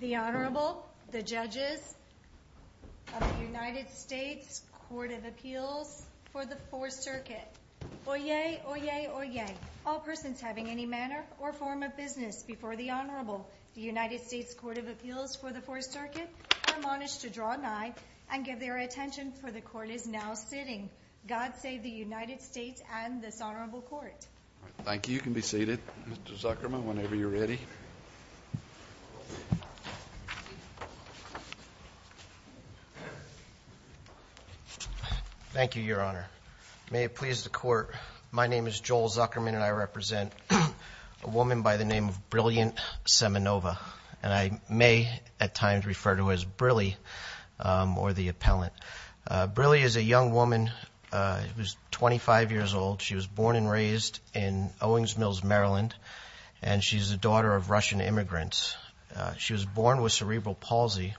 The Honorable, the Judges of the United States Court of Appeals for the Fourth Circuit. Oyez! Oyez! Oyez! All persons having any manner or form of business before the Honorable, the United States Court of Appeals for the Fourth Circuit, are admonished to draw nigh and give their attention, for the Court is now sitting. God save the United States and this Honorable Court. Thank you. You can be seated, Mr. Zuckerman, whenever you're ready. Thank you, Your Honor. May it please the Court, my name is Joel Zuckerman, and I represent a woman by the name of Brilliant Semenova. And I may at times refer to her as Brillie or the Appellant. Brillie is a young woman who's 25 years old. She was born and raised in Owings Mills, Maryland, and she's the daughter of Russian immigrants. She was born with cerebral palsy,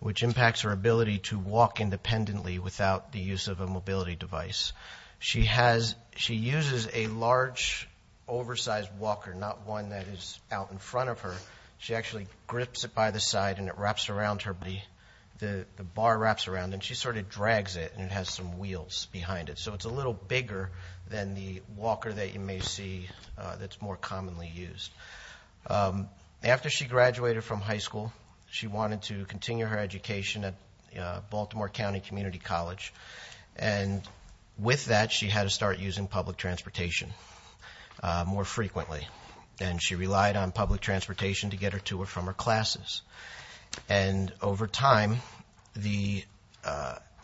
which impacts her ability to walk independently without the use of a mobility device. She uses a large, oversized walker, not one that is out in front of her. She actually grips it by the side and it wraps around her. The bar wraps around and she sort of drags it and it has some wheels behind it. So it's a little bigger than the walker that you may see that's more commonly used. After she graduated from high school, she wanted to continue her education at Baltimore County Community College. And with that, she had to start using public transportation more frequently. And she relied on public transportation to get her to or from her classes. And over time, the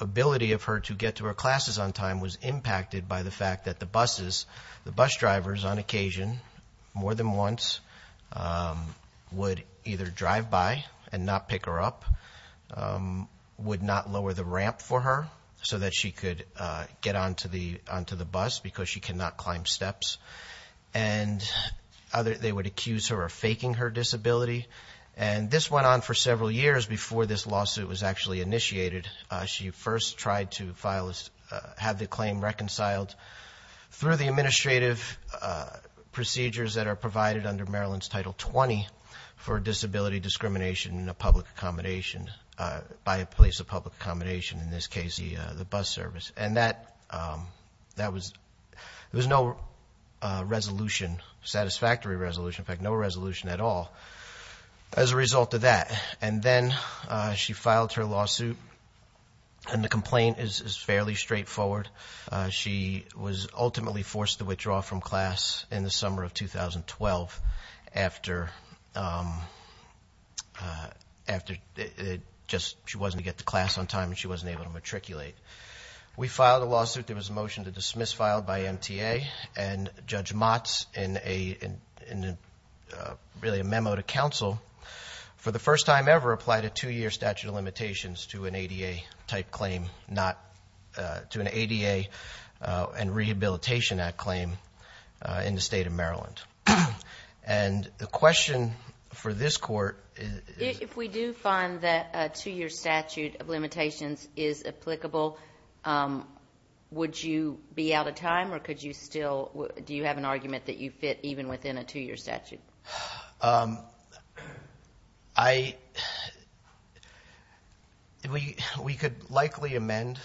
ability of her to get to her classes on time was impacted by the fact that the buses, the bus drivers on occasion, more than once, would either drive by and not pick her up, would not lower the ramp for her so that she could get onto the bus because she cannot climb steps. And they would accuse her of faking her disability. And this went on for several years before this lawsuit was actually initiated. She first tried to have the claim reconciled through the administrative procedures that are provided under Maryland's Title 20 for disability discrimination in a public accommodation, by a place of public accommodation, in this case the bus service. And that was, there was no resolution, satisfactory resolution, in fact, no resolution at all as a result of that. And then she filed her lawsuit, and the complaint is fairly straightforward. She was ultimately forced to withdraw from class in the summer of 2012 after it just, she wasn't able to get to class on time, and she wasn't able to matriculate. We filed a lawsuit. There was a motion to dismiss filed by MTA, and Judge Motz, in really a memo to counsel, for the first time ever, applied a two-year statute of limitations to an ADA-type claim, not to an ADA and Rehabilitation Act claim in the state of Maryland. And the question for this court is... If we do find that a two-year statute of limitations is applicable, would you be out of time, or could you still, do you have an argument that you fit even within a two-year statute? I... We could likely amend,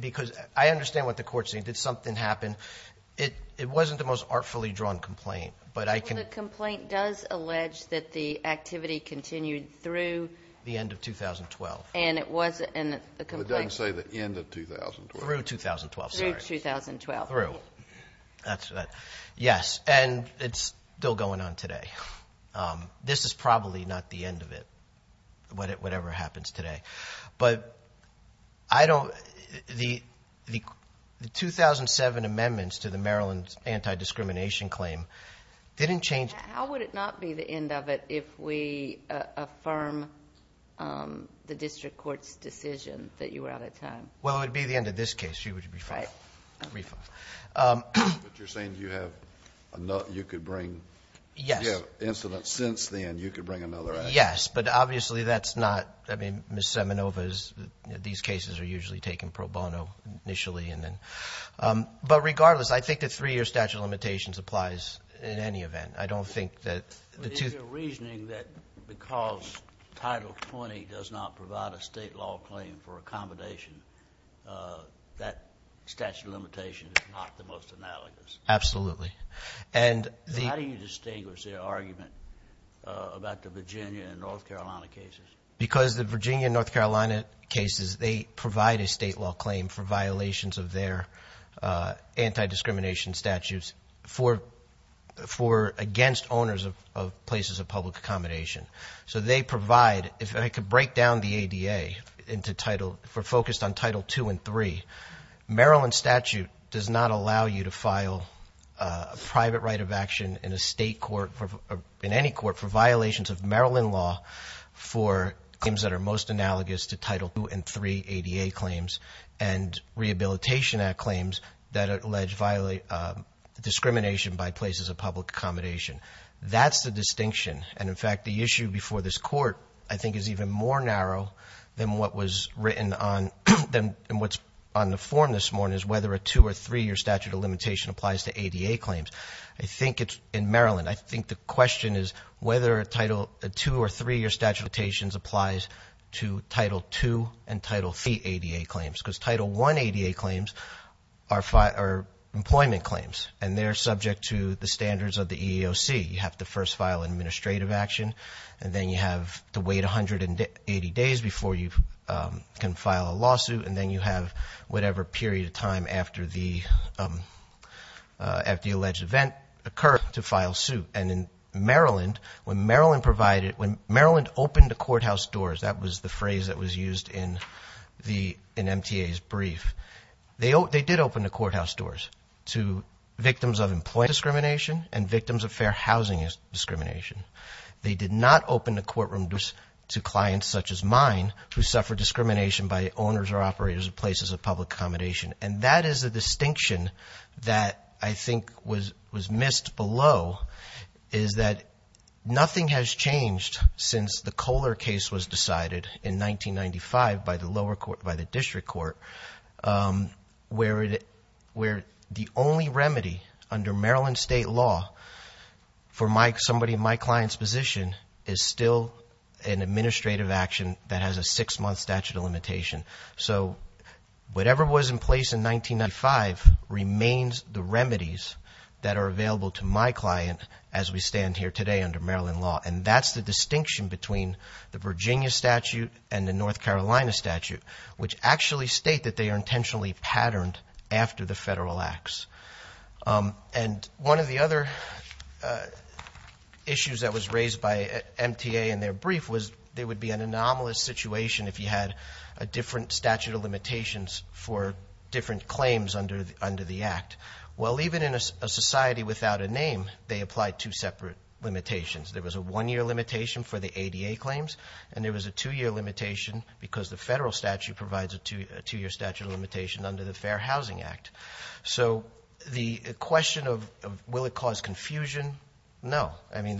because I understand what the court's saying. Did something happen? It wasn't the most artfully drawn complaint, but I can... The complaint does allege that the activity continued through... The end of 2012. And it wasn't a complaint. It doesn't say the end of 2012. Through 2012, sorry. Through 2012. Through. Yes, and it's still going on today. This is probably not the end of it, whatever happens today. But I don't... The 2007 amendments to the Maryland Anti-Discrimination Claim didn't change... How would it not be the end of it if we affirm the district court's decision that you were out of time? Well, it would be the end of this case. You would be fined. You would be fined. But you're saying you have another... You could bring... Yes. You have incidents since then. You could bring another action. Yes, but obviously that's not... I mean, Ms. Semenova's... These cases are usually taken pro bono initially. But regardless, I think the three-year statute of limitations applies in any event. I don't think that the two... That statute of limitations is not the most analogous. Absolutely. How do you distinguish the argument about the Virginia and North Carolina cases? Because the Virginia and North Carolina cases, they provide a state law claim for violations of their anti-discrimination statutes for against owners of places of public accommodation. So they provide... Maryland statute does not allow you to file a private right of action in a state court or in any court for violations of Maryland law for claims that are most analogous to Title II and III ADA claims and Rehabilitation Act claims that allege discrimination by places of public accommodation. That's the distinction. And, in fact, the issue before this court, I think, is even more narrow than what was written on the form this morning, is whether a two- or three-year statute of limitation applies to ADA claims. I think it's in Maryland. I think the question is whether a two- or three-year statute of limitations applies to Title II and Title III ADA claims, because Title I ADA claims are employment claims, and they're subject to the standards of the EEOC. You have to first file an administrative action, and then you have to wait 180 days before you can file a lawsuit, and then you have whatever period of time after the alleged event occurred to file suit. And in Maryland, when Maryland opened the courthouse doors, that was the phrase that was used in MTA's brief, they did open the courthouse doors to victims of employment discrimination and victims of fair housing discrimination. They did not open the courtroom doors to clients such as mine who suffer discrimination by owners or operators of places of public accommodation. And that is a distinction that I think was missed below, is that nothing has changed since the Kohler case was decided in 1995 by the lower court, by the district court, where the only remedy under Maryland state law for somebody in my client's position is still an administrative action that has a six-month statute of limitation. So whatever was in place in 1995 remains the remedies that are available to my client as we stand here today under Maryland law. And that's the distinction between the Virginia statute and the North Carolina statute, which actually state that they are intentionally patterned after the federal acts. And one of the other issues that was raised by MTA in their brief was there would be an anomalous situation if you had a different statute of limitations for different claims under the act. Well, even in a society without a name, they applied two separate limitations. There was a one-year limitation for the ADA claims, and there was a two-year limitation because the federal statute provides a two-year statute of limitation under the Fair Housing Act. So the question of will it cause confusion? No. I mean,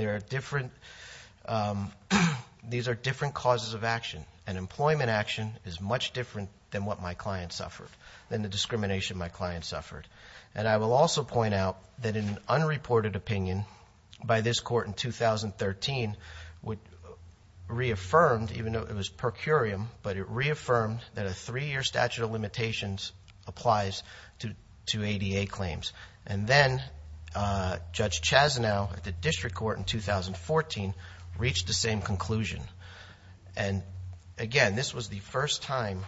these are different causes of action, and employment action is much different than what my client suffered, than the discrimination my client suffered. And I will also point out that an unreported opinion by this court in 2013 reaffirmed, even though it was per curiam, but it reaffirmed that a three-year statute of limitations applies to ADA claims. And then Judge Chazanow at the district court in 2014 reached the same conclusion. And, again, this was the first time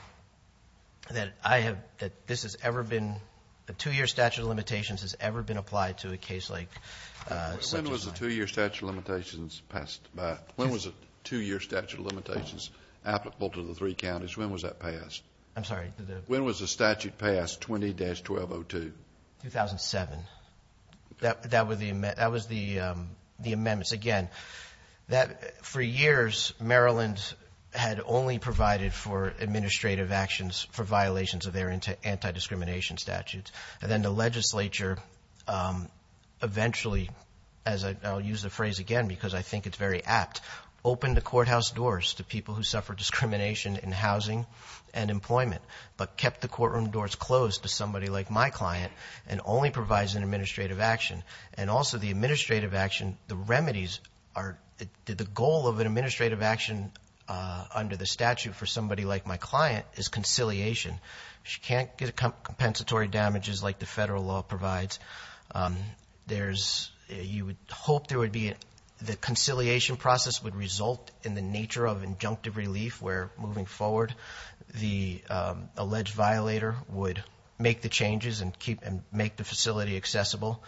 that this has ever been, a two-year statute of limitations has ever been applied to a case like such a crime. When was the two-year statute of limitations passed by? When was a two-year statute of limitations applicable to the three counties? When was that passed? I'm sorry. When was the statute passed, 20-1202? 2007. That was the amendments. Again, for years, Maryland had only provided for administrative actions for violations of their anti-discrimination statutes. And then the legislature eventually, as I'll use the phrase again because I think it's very apt, opened the courthouse doors to people who suffered discrimination in housing and employment, but kept the courtroom doors closed to somebody like my client and only provides an administrative action. And also the administrative action, the remedies, the goal of an administrative action under the statute for somebody like my client is conciliation. She can't get compensatory damages like the federal law provides. You would hope there would be, the conciliation process would result in the nature of injunctive relief where, moving forward, the alleged violator would make the changes and make the facility accessible.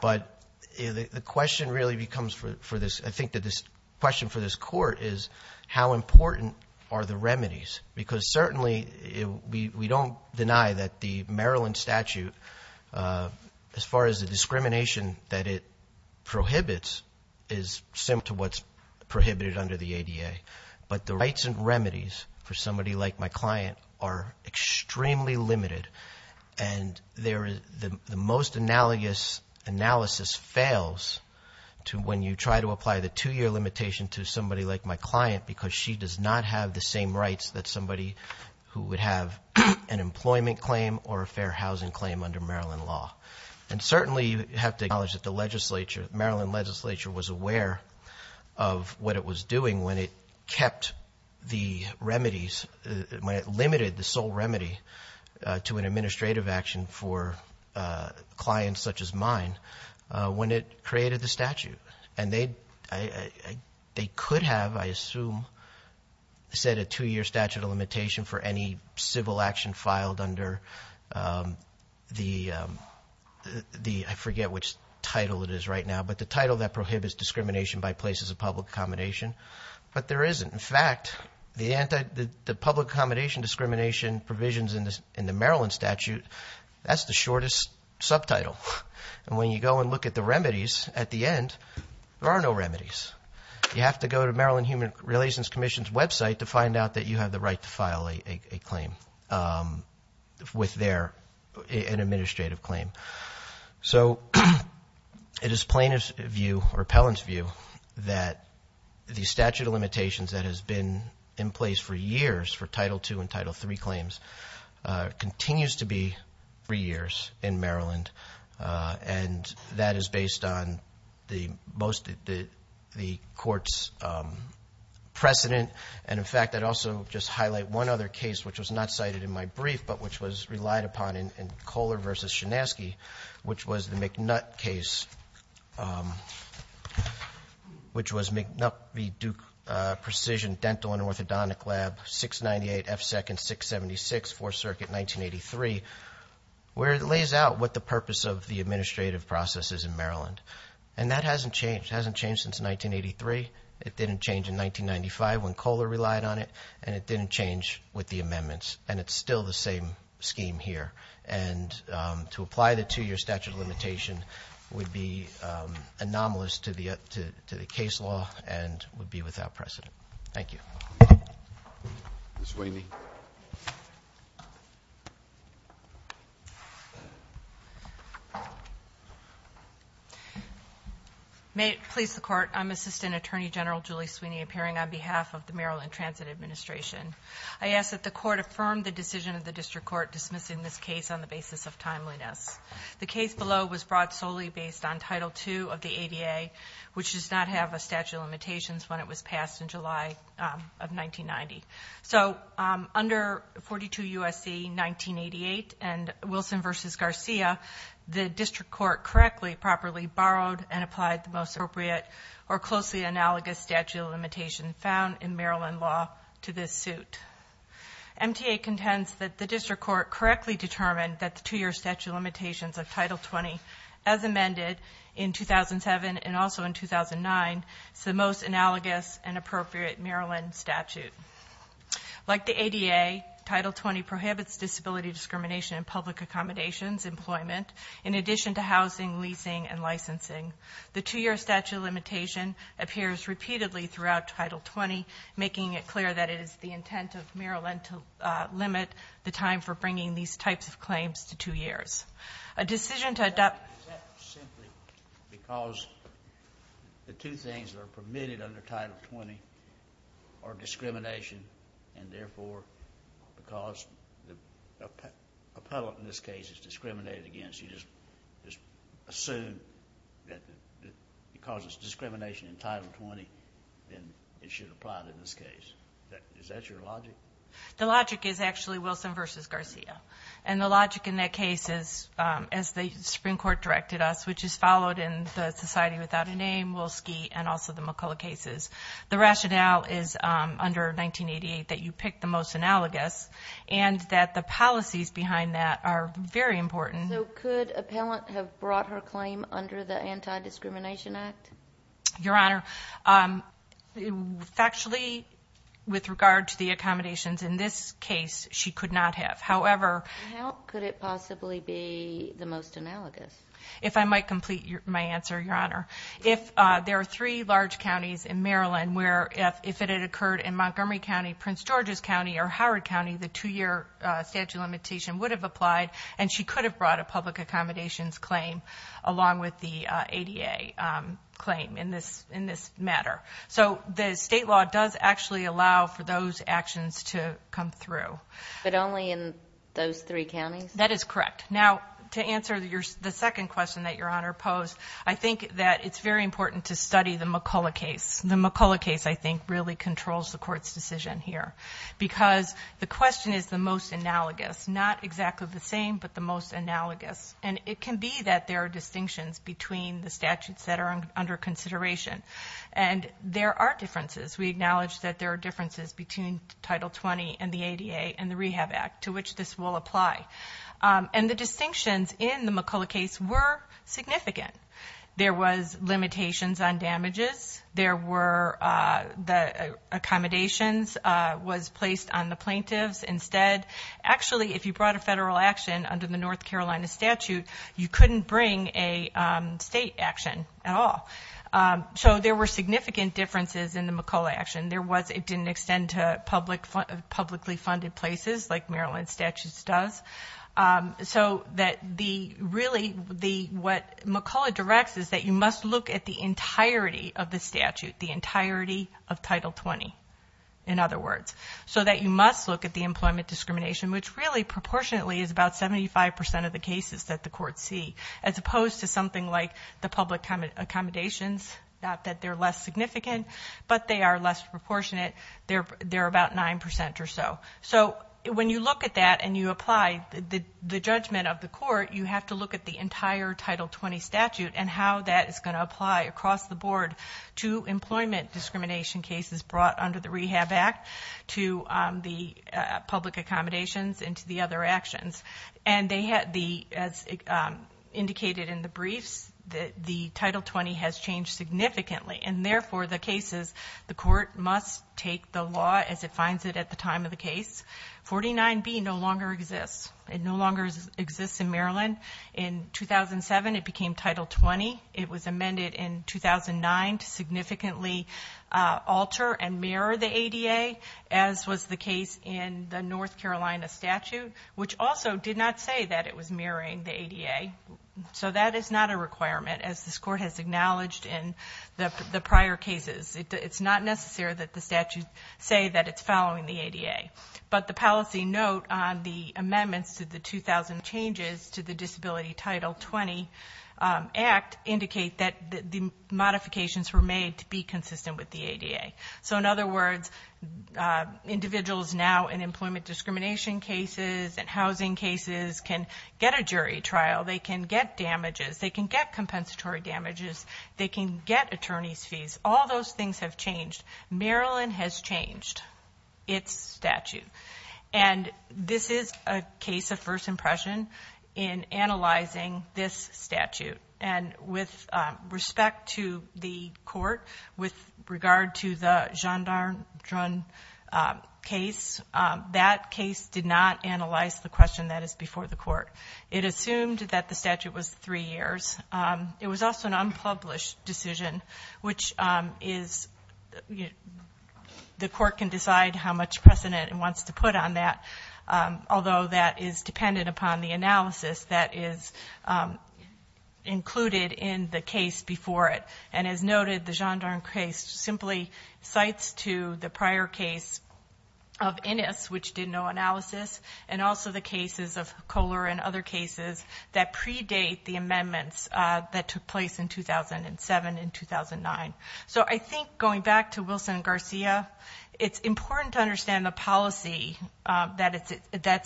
But the question really becomes for this, I think the question for this court is how important are the remedies? Because certainly we don't deny that the Maryland statute, as far as the discrimination that it prohibits, is similar to what's prohibited under the ADA. But the rights and remedies for somebody like my client are extremely limited. And the most analogous analysis fails when you try to apply the two-year limitation to somebody like my client because she does not have the same rights that somebody who would have an employment claim or a fair housing claim under Maryland law. And certainly you have to acknowledge that the Maryland legislature was aware of what it was doing when it kept the remedies, when it limited the sole remedy to an administrative action for clients such as mine, when it created the statute. And they could have, I assume, set a two-year statute of limitation for any civil action filed under the, I forget which title it is right now, but the title that prohibits discrimination by places of public accommodation. But there isn't. In fact, the public accommodation discrimination provisions in the Maryland statute, that's the shortest subtitle. And when you go and look at the remedies at the end, there are no remedies. You have to go to Maryland Human Relations Commission's website to find out that you have the right to file a claim with their administrative claim. So it is plaintiff's view or appellant's view that the statute of limitations that has been in place for years for Title II and Title III claims continues to be three years in Maryland. And that is based on the court's precedent. And in fact, I'd also just highlight one other case, which was not cited in my brief, but which was relied upon in Kohler v. Shinaski, which was the McNutt case, which was McNutt v. Duke Precision Dental and Orthodontic Lab, 698 F. Second, 676 Fourth Circuit, 1983, where it lays out what the purpose of the administrative process is in Maryland. And that hasn't changed. It hasn't changed since 1983. It didn't change in 1995 when Kohler relied on it, and it didn't change with the amendments. And it's still the same scheme here. And to apply the two-year statute of limitation would be anomalous to the case law and would be without precedent. Thank you. Ms. Sweeney. May it please the Court, I'm Assistant Attorney General Julie Sweeney, appearing on behalf of the Maryland Transit Administration. I ask that the Court affirm the decision of the District Court dismissing this case on the basis of timeliness. The case below was brought solely based on Title II of the ADA, which does not have a statute of limitations when it was passed in July of 1990. So under 42 U.S.C. 1988 and Wilson v. Garcia, the District Court correctly, properly borrowed and applied the most appropriate or closely analogous statute of limitation found in Maryland law to this suit. MTA contends that the District Court correctly determined that the two-year statute of limitations of Title 20, as amended in 2007 and also in 2009, is the most analogous and appropriate Maryland statute. Like the ADA, Title 20 prohibits disability discrimination in public accommodations, employment, in addition to housing, leasing, and licensing. The two-year statute of limitation appears repeatedly throughout Title 20, making it clear that it is the intent of Maryland to limit the time for bringing these types of claims to two years. A decision to adopt... Is that simply because the two things that are permitted under Title 20 are discrimination and therefore because the appellate in this case is discriminated against, you just assume that it causes discrimination in Title 20, then it should apply to this case. Is that your logic? The logic is actually Wilson v. Garcia. And the logic in that case is, as the Supreme Court directed us, which is followed in the Society Without a Name, Wolsky, and also the McCullough cases, the rationale is under 1988 that you pick the most analogous and that the policies behind that are very important. So could appellant have brought her claim under the Anti-Discrimination Act? Your Honor, factually, with regard to the accommodations in this case, she could not have. However... How could it possibly be the most analogous? If I might complete my answer, Your Honor, if there are three large counties in Maryland where if it had occurred in Montgomery County, Prince George's County, or Howard County, the two-year statute of limitation would have applied and she could have brought a public accommodations claim along with the ADA claim in this matter. So the state law does actually allow for those actions to come through. But only in those three counties? That is correct. Now, to answer the second question that Your Honor posed, I think that it's very important to study the McCullough case. The McCullough case, I think, really controls the Court's decision here because the question is the most analogous. Not exactly the same, but the most analogous. And it can be that there are distinctions between the statutes that are under consideration. And there are differences. We acknowledge that there are differences between Title 20 and the ADA and the Rehab Act to which this will apply. And the distinctions in the McCullough case were significant. There was limitations on damages. The accommodations was placed on the plaintiffs instead. Actually, if you brought a federal action under the North Carolina statute, you couldn't bring a state action at all. So there were significant differences in the McCullough action. It didn't extend to publicly funded places like Maryland's statute does. So really what McCullough directs is that you must look at the entirety of the statute, the entirety of Title 20, in other words. So that you must look at the employment discrimination, which really proportionately is about 75% of the cases that the courts see, as opposed to something like the public accommodations, not that they're less significant, but they are less proportionate. They're about 9% or so. So when you look at that and you apply the judgment of the court, you have to look at the entire Title 20 statute and how that is going to apply across the board to employment discrimination cases brought under the Rehab Act, to the public accommodations, and to the other actions. And as indicated in the briefs, the Title 20 has changed significantly. And therefore, the court must take the law as it finds it at the time of the case. 49B no longer exists. It no longer exists in Maryland. In 2007, it became Title 20. It was amended in 2009 to significantly alter and mirror the ADA, as was the case in the North Carolina statute, which also did not say that it was mirroring the ADA. So that is not a requirement, as this court has acknowledged in the prior cases. It's not necessary that the statute say that it's following the ADA. But the policy note on the amendments to the 2000 changes to the Disability Title 20 Act indicate that the modifications were made to be consistent with the ADA. So in other words, individuals now in employment discrimination cases and housing cases can get a jury trial. They can get damages. They can get compensatory damages. They can get attorney's fees. All those things have changed. Maryland has changed its statute. And this is a case of first impression in analyzing this statute. And with respect to the court, with regard to the gendarme case, that case did not analyze the question that is before the court. It assumed that the statute was three years. It was also an unpublished decision, which the court can decide how much precedent it wants to put on that, although that is dependent upon the analysis that is included in the case before it. And as noted, the gendarme case simply cites to the prior case of Innis, which did no analysis, and also the cases of Kohler and other cases that predate the amendments that took place in 2007 and 2009. So I think going back to Wilson and Garcia, it's important to understand the policy that's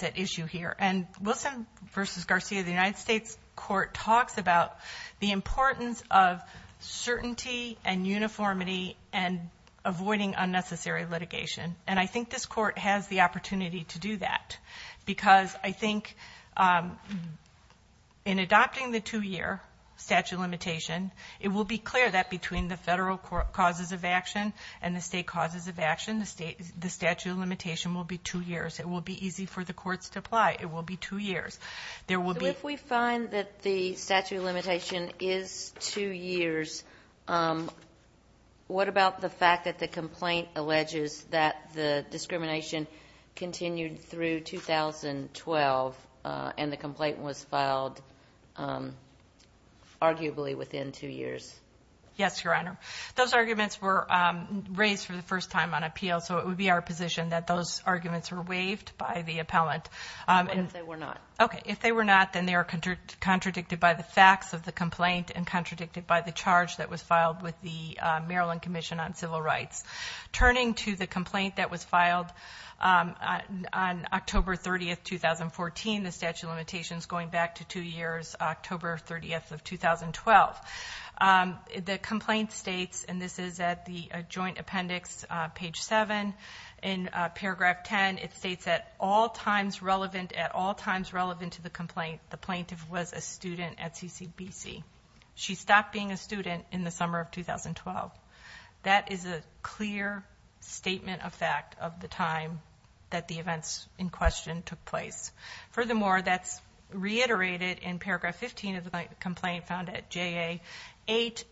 at issue here. And Wilson v. Garcia, the United States Court, talks about the importance of certainty and uniformity and avoiding unnecessary litigation. And I think this court has the opportunity to do that because I think in adopting the two-year statute of limitation, it will be clear that between the federal causes of action and the state causes of action, the statute of limitation will be two years. It will be easy for the courts to apply. It will be two years. If we find that the statute of limitation is two years, what about the fact that the complaint alleges that the discrimination continued through 2012 and the complaint was filed arguably within two years? Yes, Your Honor. Those arguments were raised for the first time on appeal, so it would be our position that those arguments were waived by the appellant. What if they were not? Okay. If they were not, then they are contradicted by the facts of the complaint and contradicted by the charge that was filed with the Maryland Commission on Civil Rights. Turning to the complaint that was filed on October 30, 2014, the statute of limitation is going back to two years, October 30, 2012. The complaint states, and this is at the joint appendix, page 7, in paragraph 10, it states, at all times relevant to the complaint, the plaintiff was a student at CCBC. She stopped being a student in the summer of 2012. That is a clear statement of fact of the time that the events in question took place. Furthermore, that's reiterated in paragraph 15 of the complaint found at JA 8,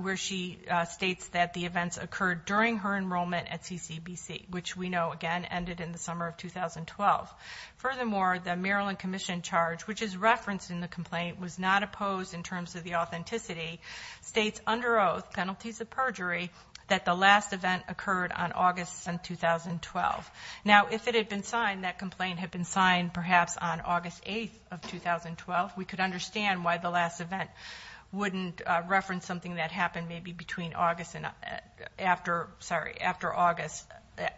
where she states that the events occurred during her enrollment at CCBC, which we know, again, ended in the summer of 2012. Furthermore, the Maryland Commission charge, which is referenced in the complaint, was not opposed in terms of the authenticity, states under oath, penalties of perjury, that the last event occurred on August 7, 2012. Now, if it had been signed, that complaint had been signed perhaps on August 8 of 2012, we could understand why the last event wouldn't reference something that happened maybe between August and after, sorry, after August,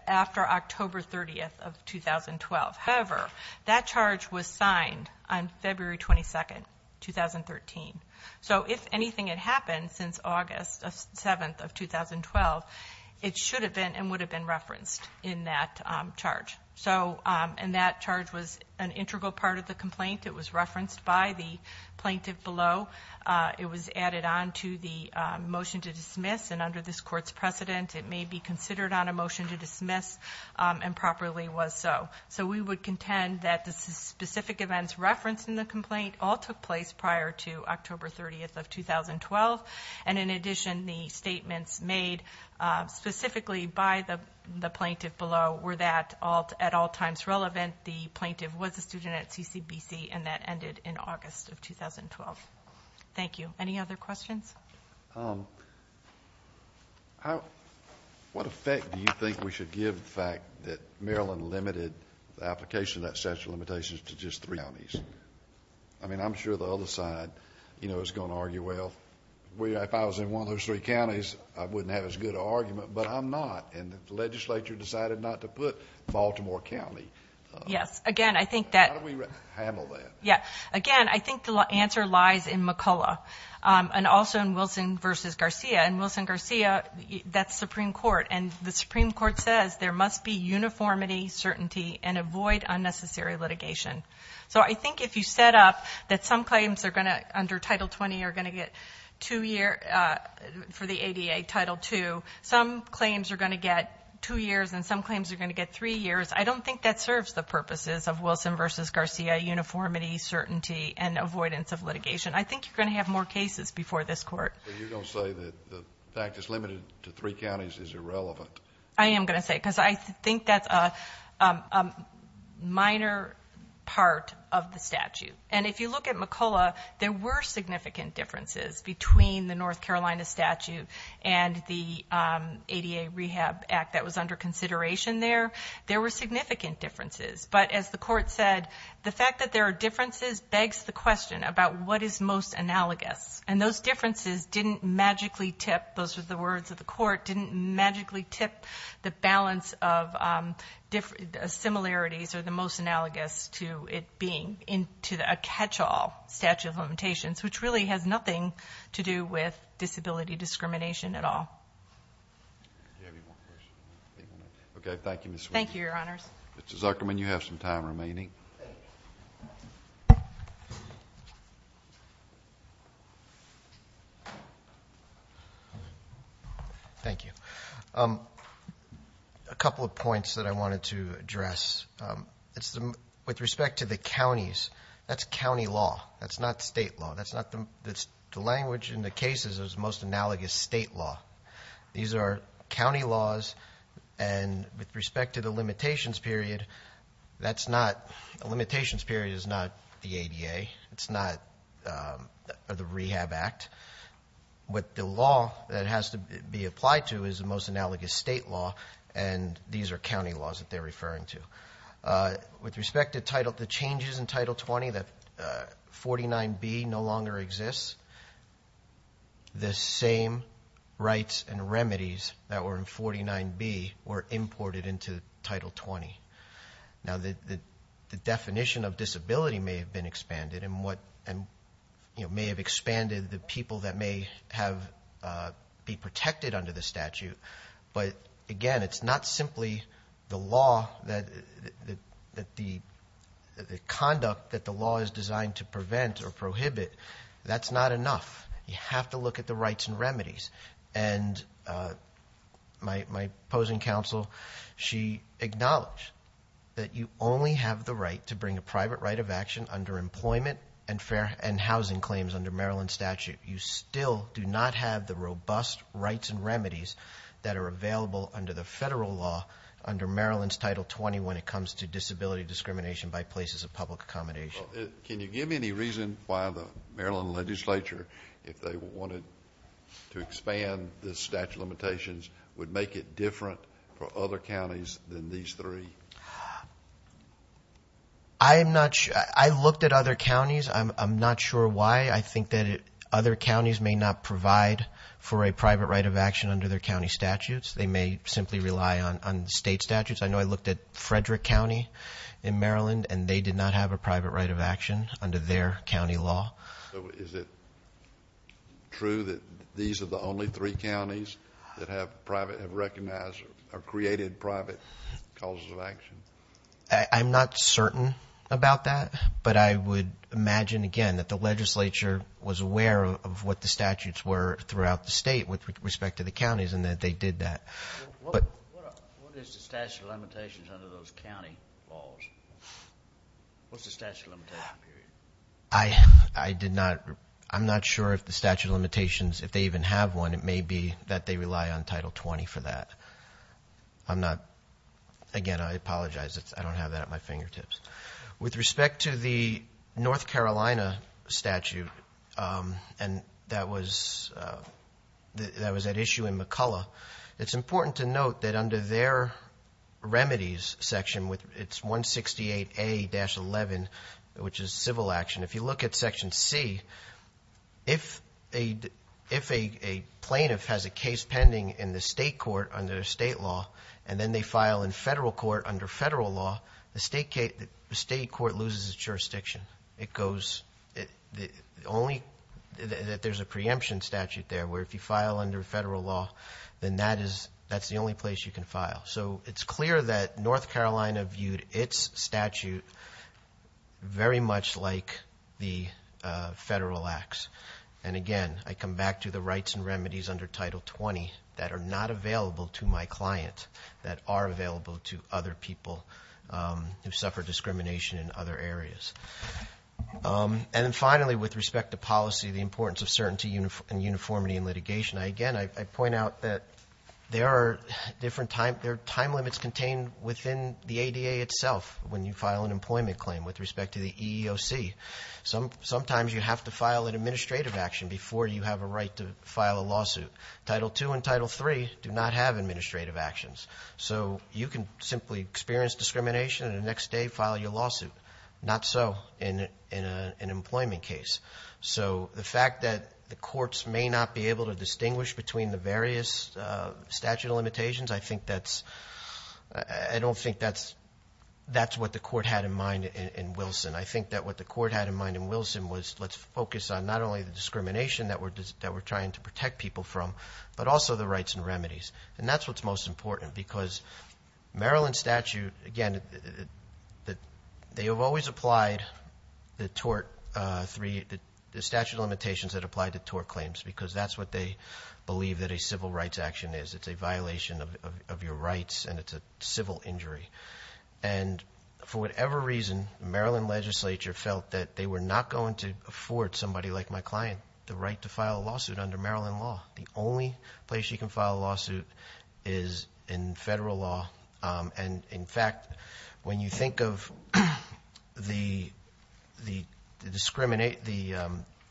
after October 30th of 2012. However, that charge was signed on February 22nd, 2013. So if anything had happened since August 7th of 2012, it should have been and would have been referenced in that charge. And that charge was an integral part of the complaint. It was referenced by the plaintiff below. It was added on to the motion to dismiss, and under this court's precedent, it may be considered on a motion to dismiss, and properly was so. So we would contend that the specific events referenced in the complaint all took place prior to October 30th of 2012. And in addition, the statements made specifically by the plaintiff below were at all times relevant. The plaintiff was a student at CCBC, and that ended in August of 2012. Thank you. Any other questions? What effect do you think we should give the fact that Maryland limited the application of that statute of limitations to just three counties? I mean, I'm sure the other side is going to argue, well, if I was in one of those three counties, I wouldn't have as good an argument, but I'm not. And the legislature decided not to put Baltimore County. Yes. Again, I think that... How do we handle that? Yeah. Again, I think the answer lies in McCullough, and also in Wilson v. Garcia. In Wilson-Garcia, that's Supreme Court, and the Supreme Court says there must be uniformity, certainty, and avoid unnecessary litigation. So I think if you set up that some claims are going to, under Title 20, are going to get two years for the ADA Title II, some claims are going to get two years, and some claims are going to get three years, I don't think that serves the purposes of Wilson v. Garcia, uniformity, certainty, and avoidance of litigation. I think you're going to have more cases before this Court. But you're going to say that the fact it's limited to three counties is irrelevant. I am going to say it, because I think that's a minor part of the statute. And if you look at McCullough, there were significant differences between the North Carolina statute and the ADA Rehab Act that was under consideration there. There were significant differences. But as the Court said, the fact that there are differences begs the question about what is most analogous. And those differences didn't magically tip, those were the words of the Court, didn't magically tip the balance of similarities or the most analogous to it being a catch-all statute of limitations, which really has nothing to do with disability discrimination at all. Do you have any more questions? Okay, thank you, Ms. Wheeler. Thank you, Your Honors. Mr. Zuckerman, you have some time remaining. Thank you. Thank you. A couple of points that I wanted to address. With respect to the counties, that's county law. That's not state law. The language in the cases is most analogous state law. These are county laws, and with respect to the limitations period, the limitations period is not the ADA. It's not the Rehab Act. What the law that has to be applied to is the most analogous state law, and these are county laws that they're referring to. With respect to the changes in Title 20, that 49B no longer exists, the same rights and remedies that were in 49B were imported into Title 20. Now, the definition of disability may have been expanded and may have expanded the people that may be protected under the statute, but, again, it's not simply the conduct that the law is designed to prevent or prohibit. That's not enough. You have to look at the rights and remedies, and my opposing counsel, she acknowledged that you only have the right to employment and housing claims under Maryland statute. You still do not have the robust rights and remedies that are available under the federal law under Maryland's Title 20 when it comes to disability discrimination by places of public accommodation. Can you give me any reason why the Maryland legislature, if they wanted to expand the statute of limitations, would make it different for other counties than these three? I'm not sure. I looked at other counties. I'm not sure why. I think that other counties may not provide for a private right of action under their county statutes. They may simply rely on state statutes. I know I looked at Frederick County in Maryland, and they did not have a private right of action under their county law. So is it true that these are the only three counties that have recognized or created private causes of action? I'm not certain about that, but I would imagine, again, that the legislature was aware of what the statutes were throughout the state with respect to the counties and that they did that. What is the statute of limitations under those county laws? What's the statute of limitations? I'm not sure if the statute of limitations, if they even have one, it may be that they rely on Title 20 for that. Again, I apologize. I don't have that at my fingertips. With respect to the North Carolina statute, and that was at issue in McCullough, it's important to note that under their remedies section, it's 168A-11, which is civil action. If you look at section C, if a plaintiff has a case pending in the state court under state law, and then they file in federal court under federal law, the state court loses its jurisdiction. There's a preemption statute there, where if you file under federal law, then that's the only place you can file. So it's clear that North Carolina viewed its statute very much like the federal acts. Again, I come back to the rights and remedies under Title 20 that are not available to my client, that are available to other people who suffer discrimination in other areas. Finally, with respect to policy, the importance of certainty and uniformity in litigation, again, I point out that there are time limits contained within the ADA itself when you file an employment claim with respect to the EEOC. Sometimes you have to file an administrative action before you have a right to file a lawsuit. Title II and Title III do not have administrative actions. So you can simply experience discrimination and the next day file your lawsuit. Not so in an employment case. So the fact that the courts may not be able to distinguish between the various statute of limitations, I don't think that's what the court had in mind in Wilson. I think that what the court had in mind in Wilson was, let's focus on not only the discrimination that we're trying to protect people from, but also the rights and remedies. And that's what's most important because Maryland statute, again, they have always applied the statute of limitations that apply to tort claims because that's what they believe that a civil rights action is. It's a violation of your rights and it's a civil injury. And for whatever reason, Maryland legislature felt that they were not going to afford somebody like my client the right to file a lawsuit under Maryland law. The only place you can file a lawsuit is in federal law. And, in fact, when you think of the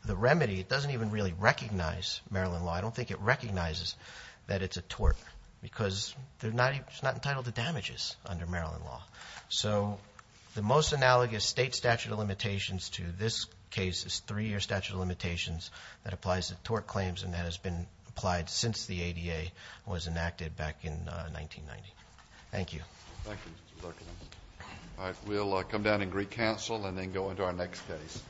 remedy, it doesn't even really recognize Maryland law. I don't think it recognizes that it's a tort because it's not entitled to damages under Maryland law. So the most analogous state statute of limitations to this case is three-year statute of limitations that applies to tort claims and that has been applied since the ADA was enacted back in 1990. Thank you. Thank you, Mr. Zuckerman. All right, we'll come down and recouncil and then go into our next case.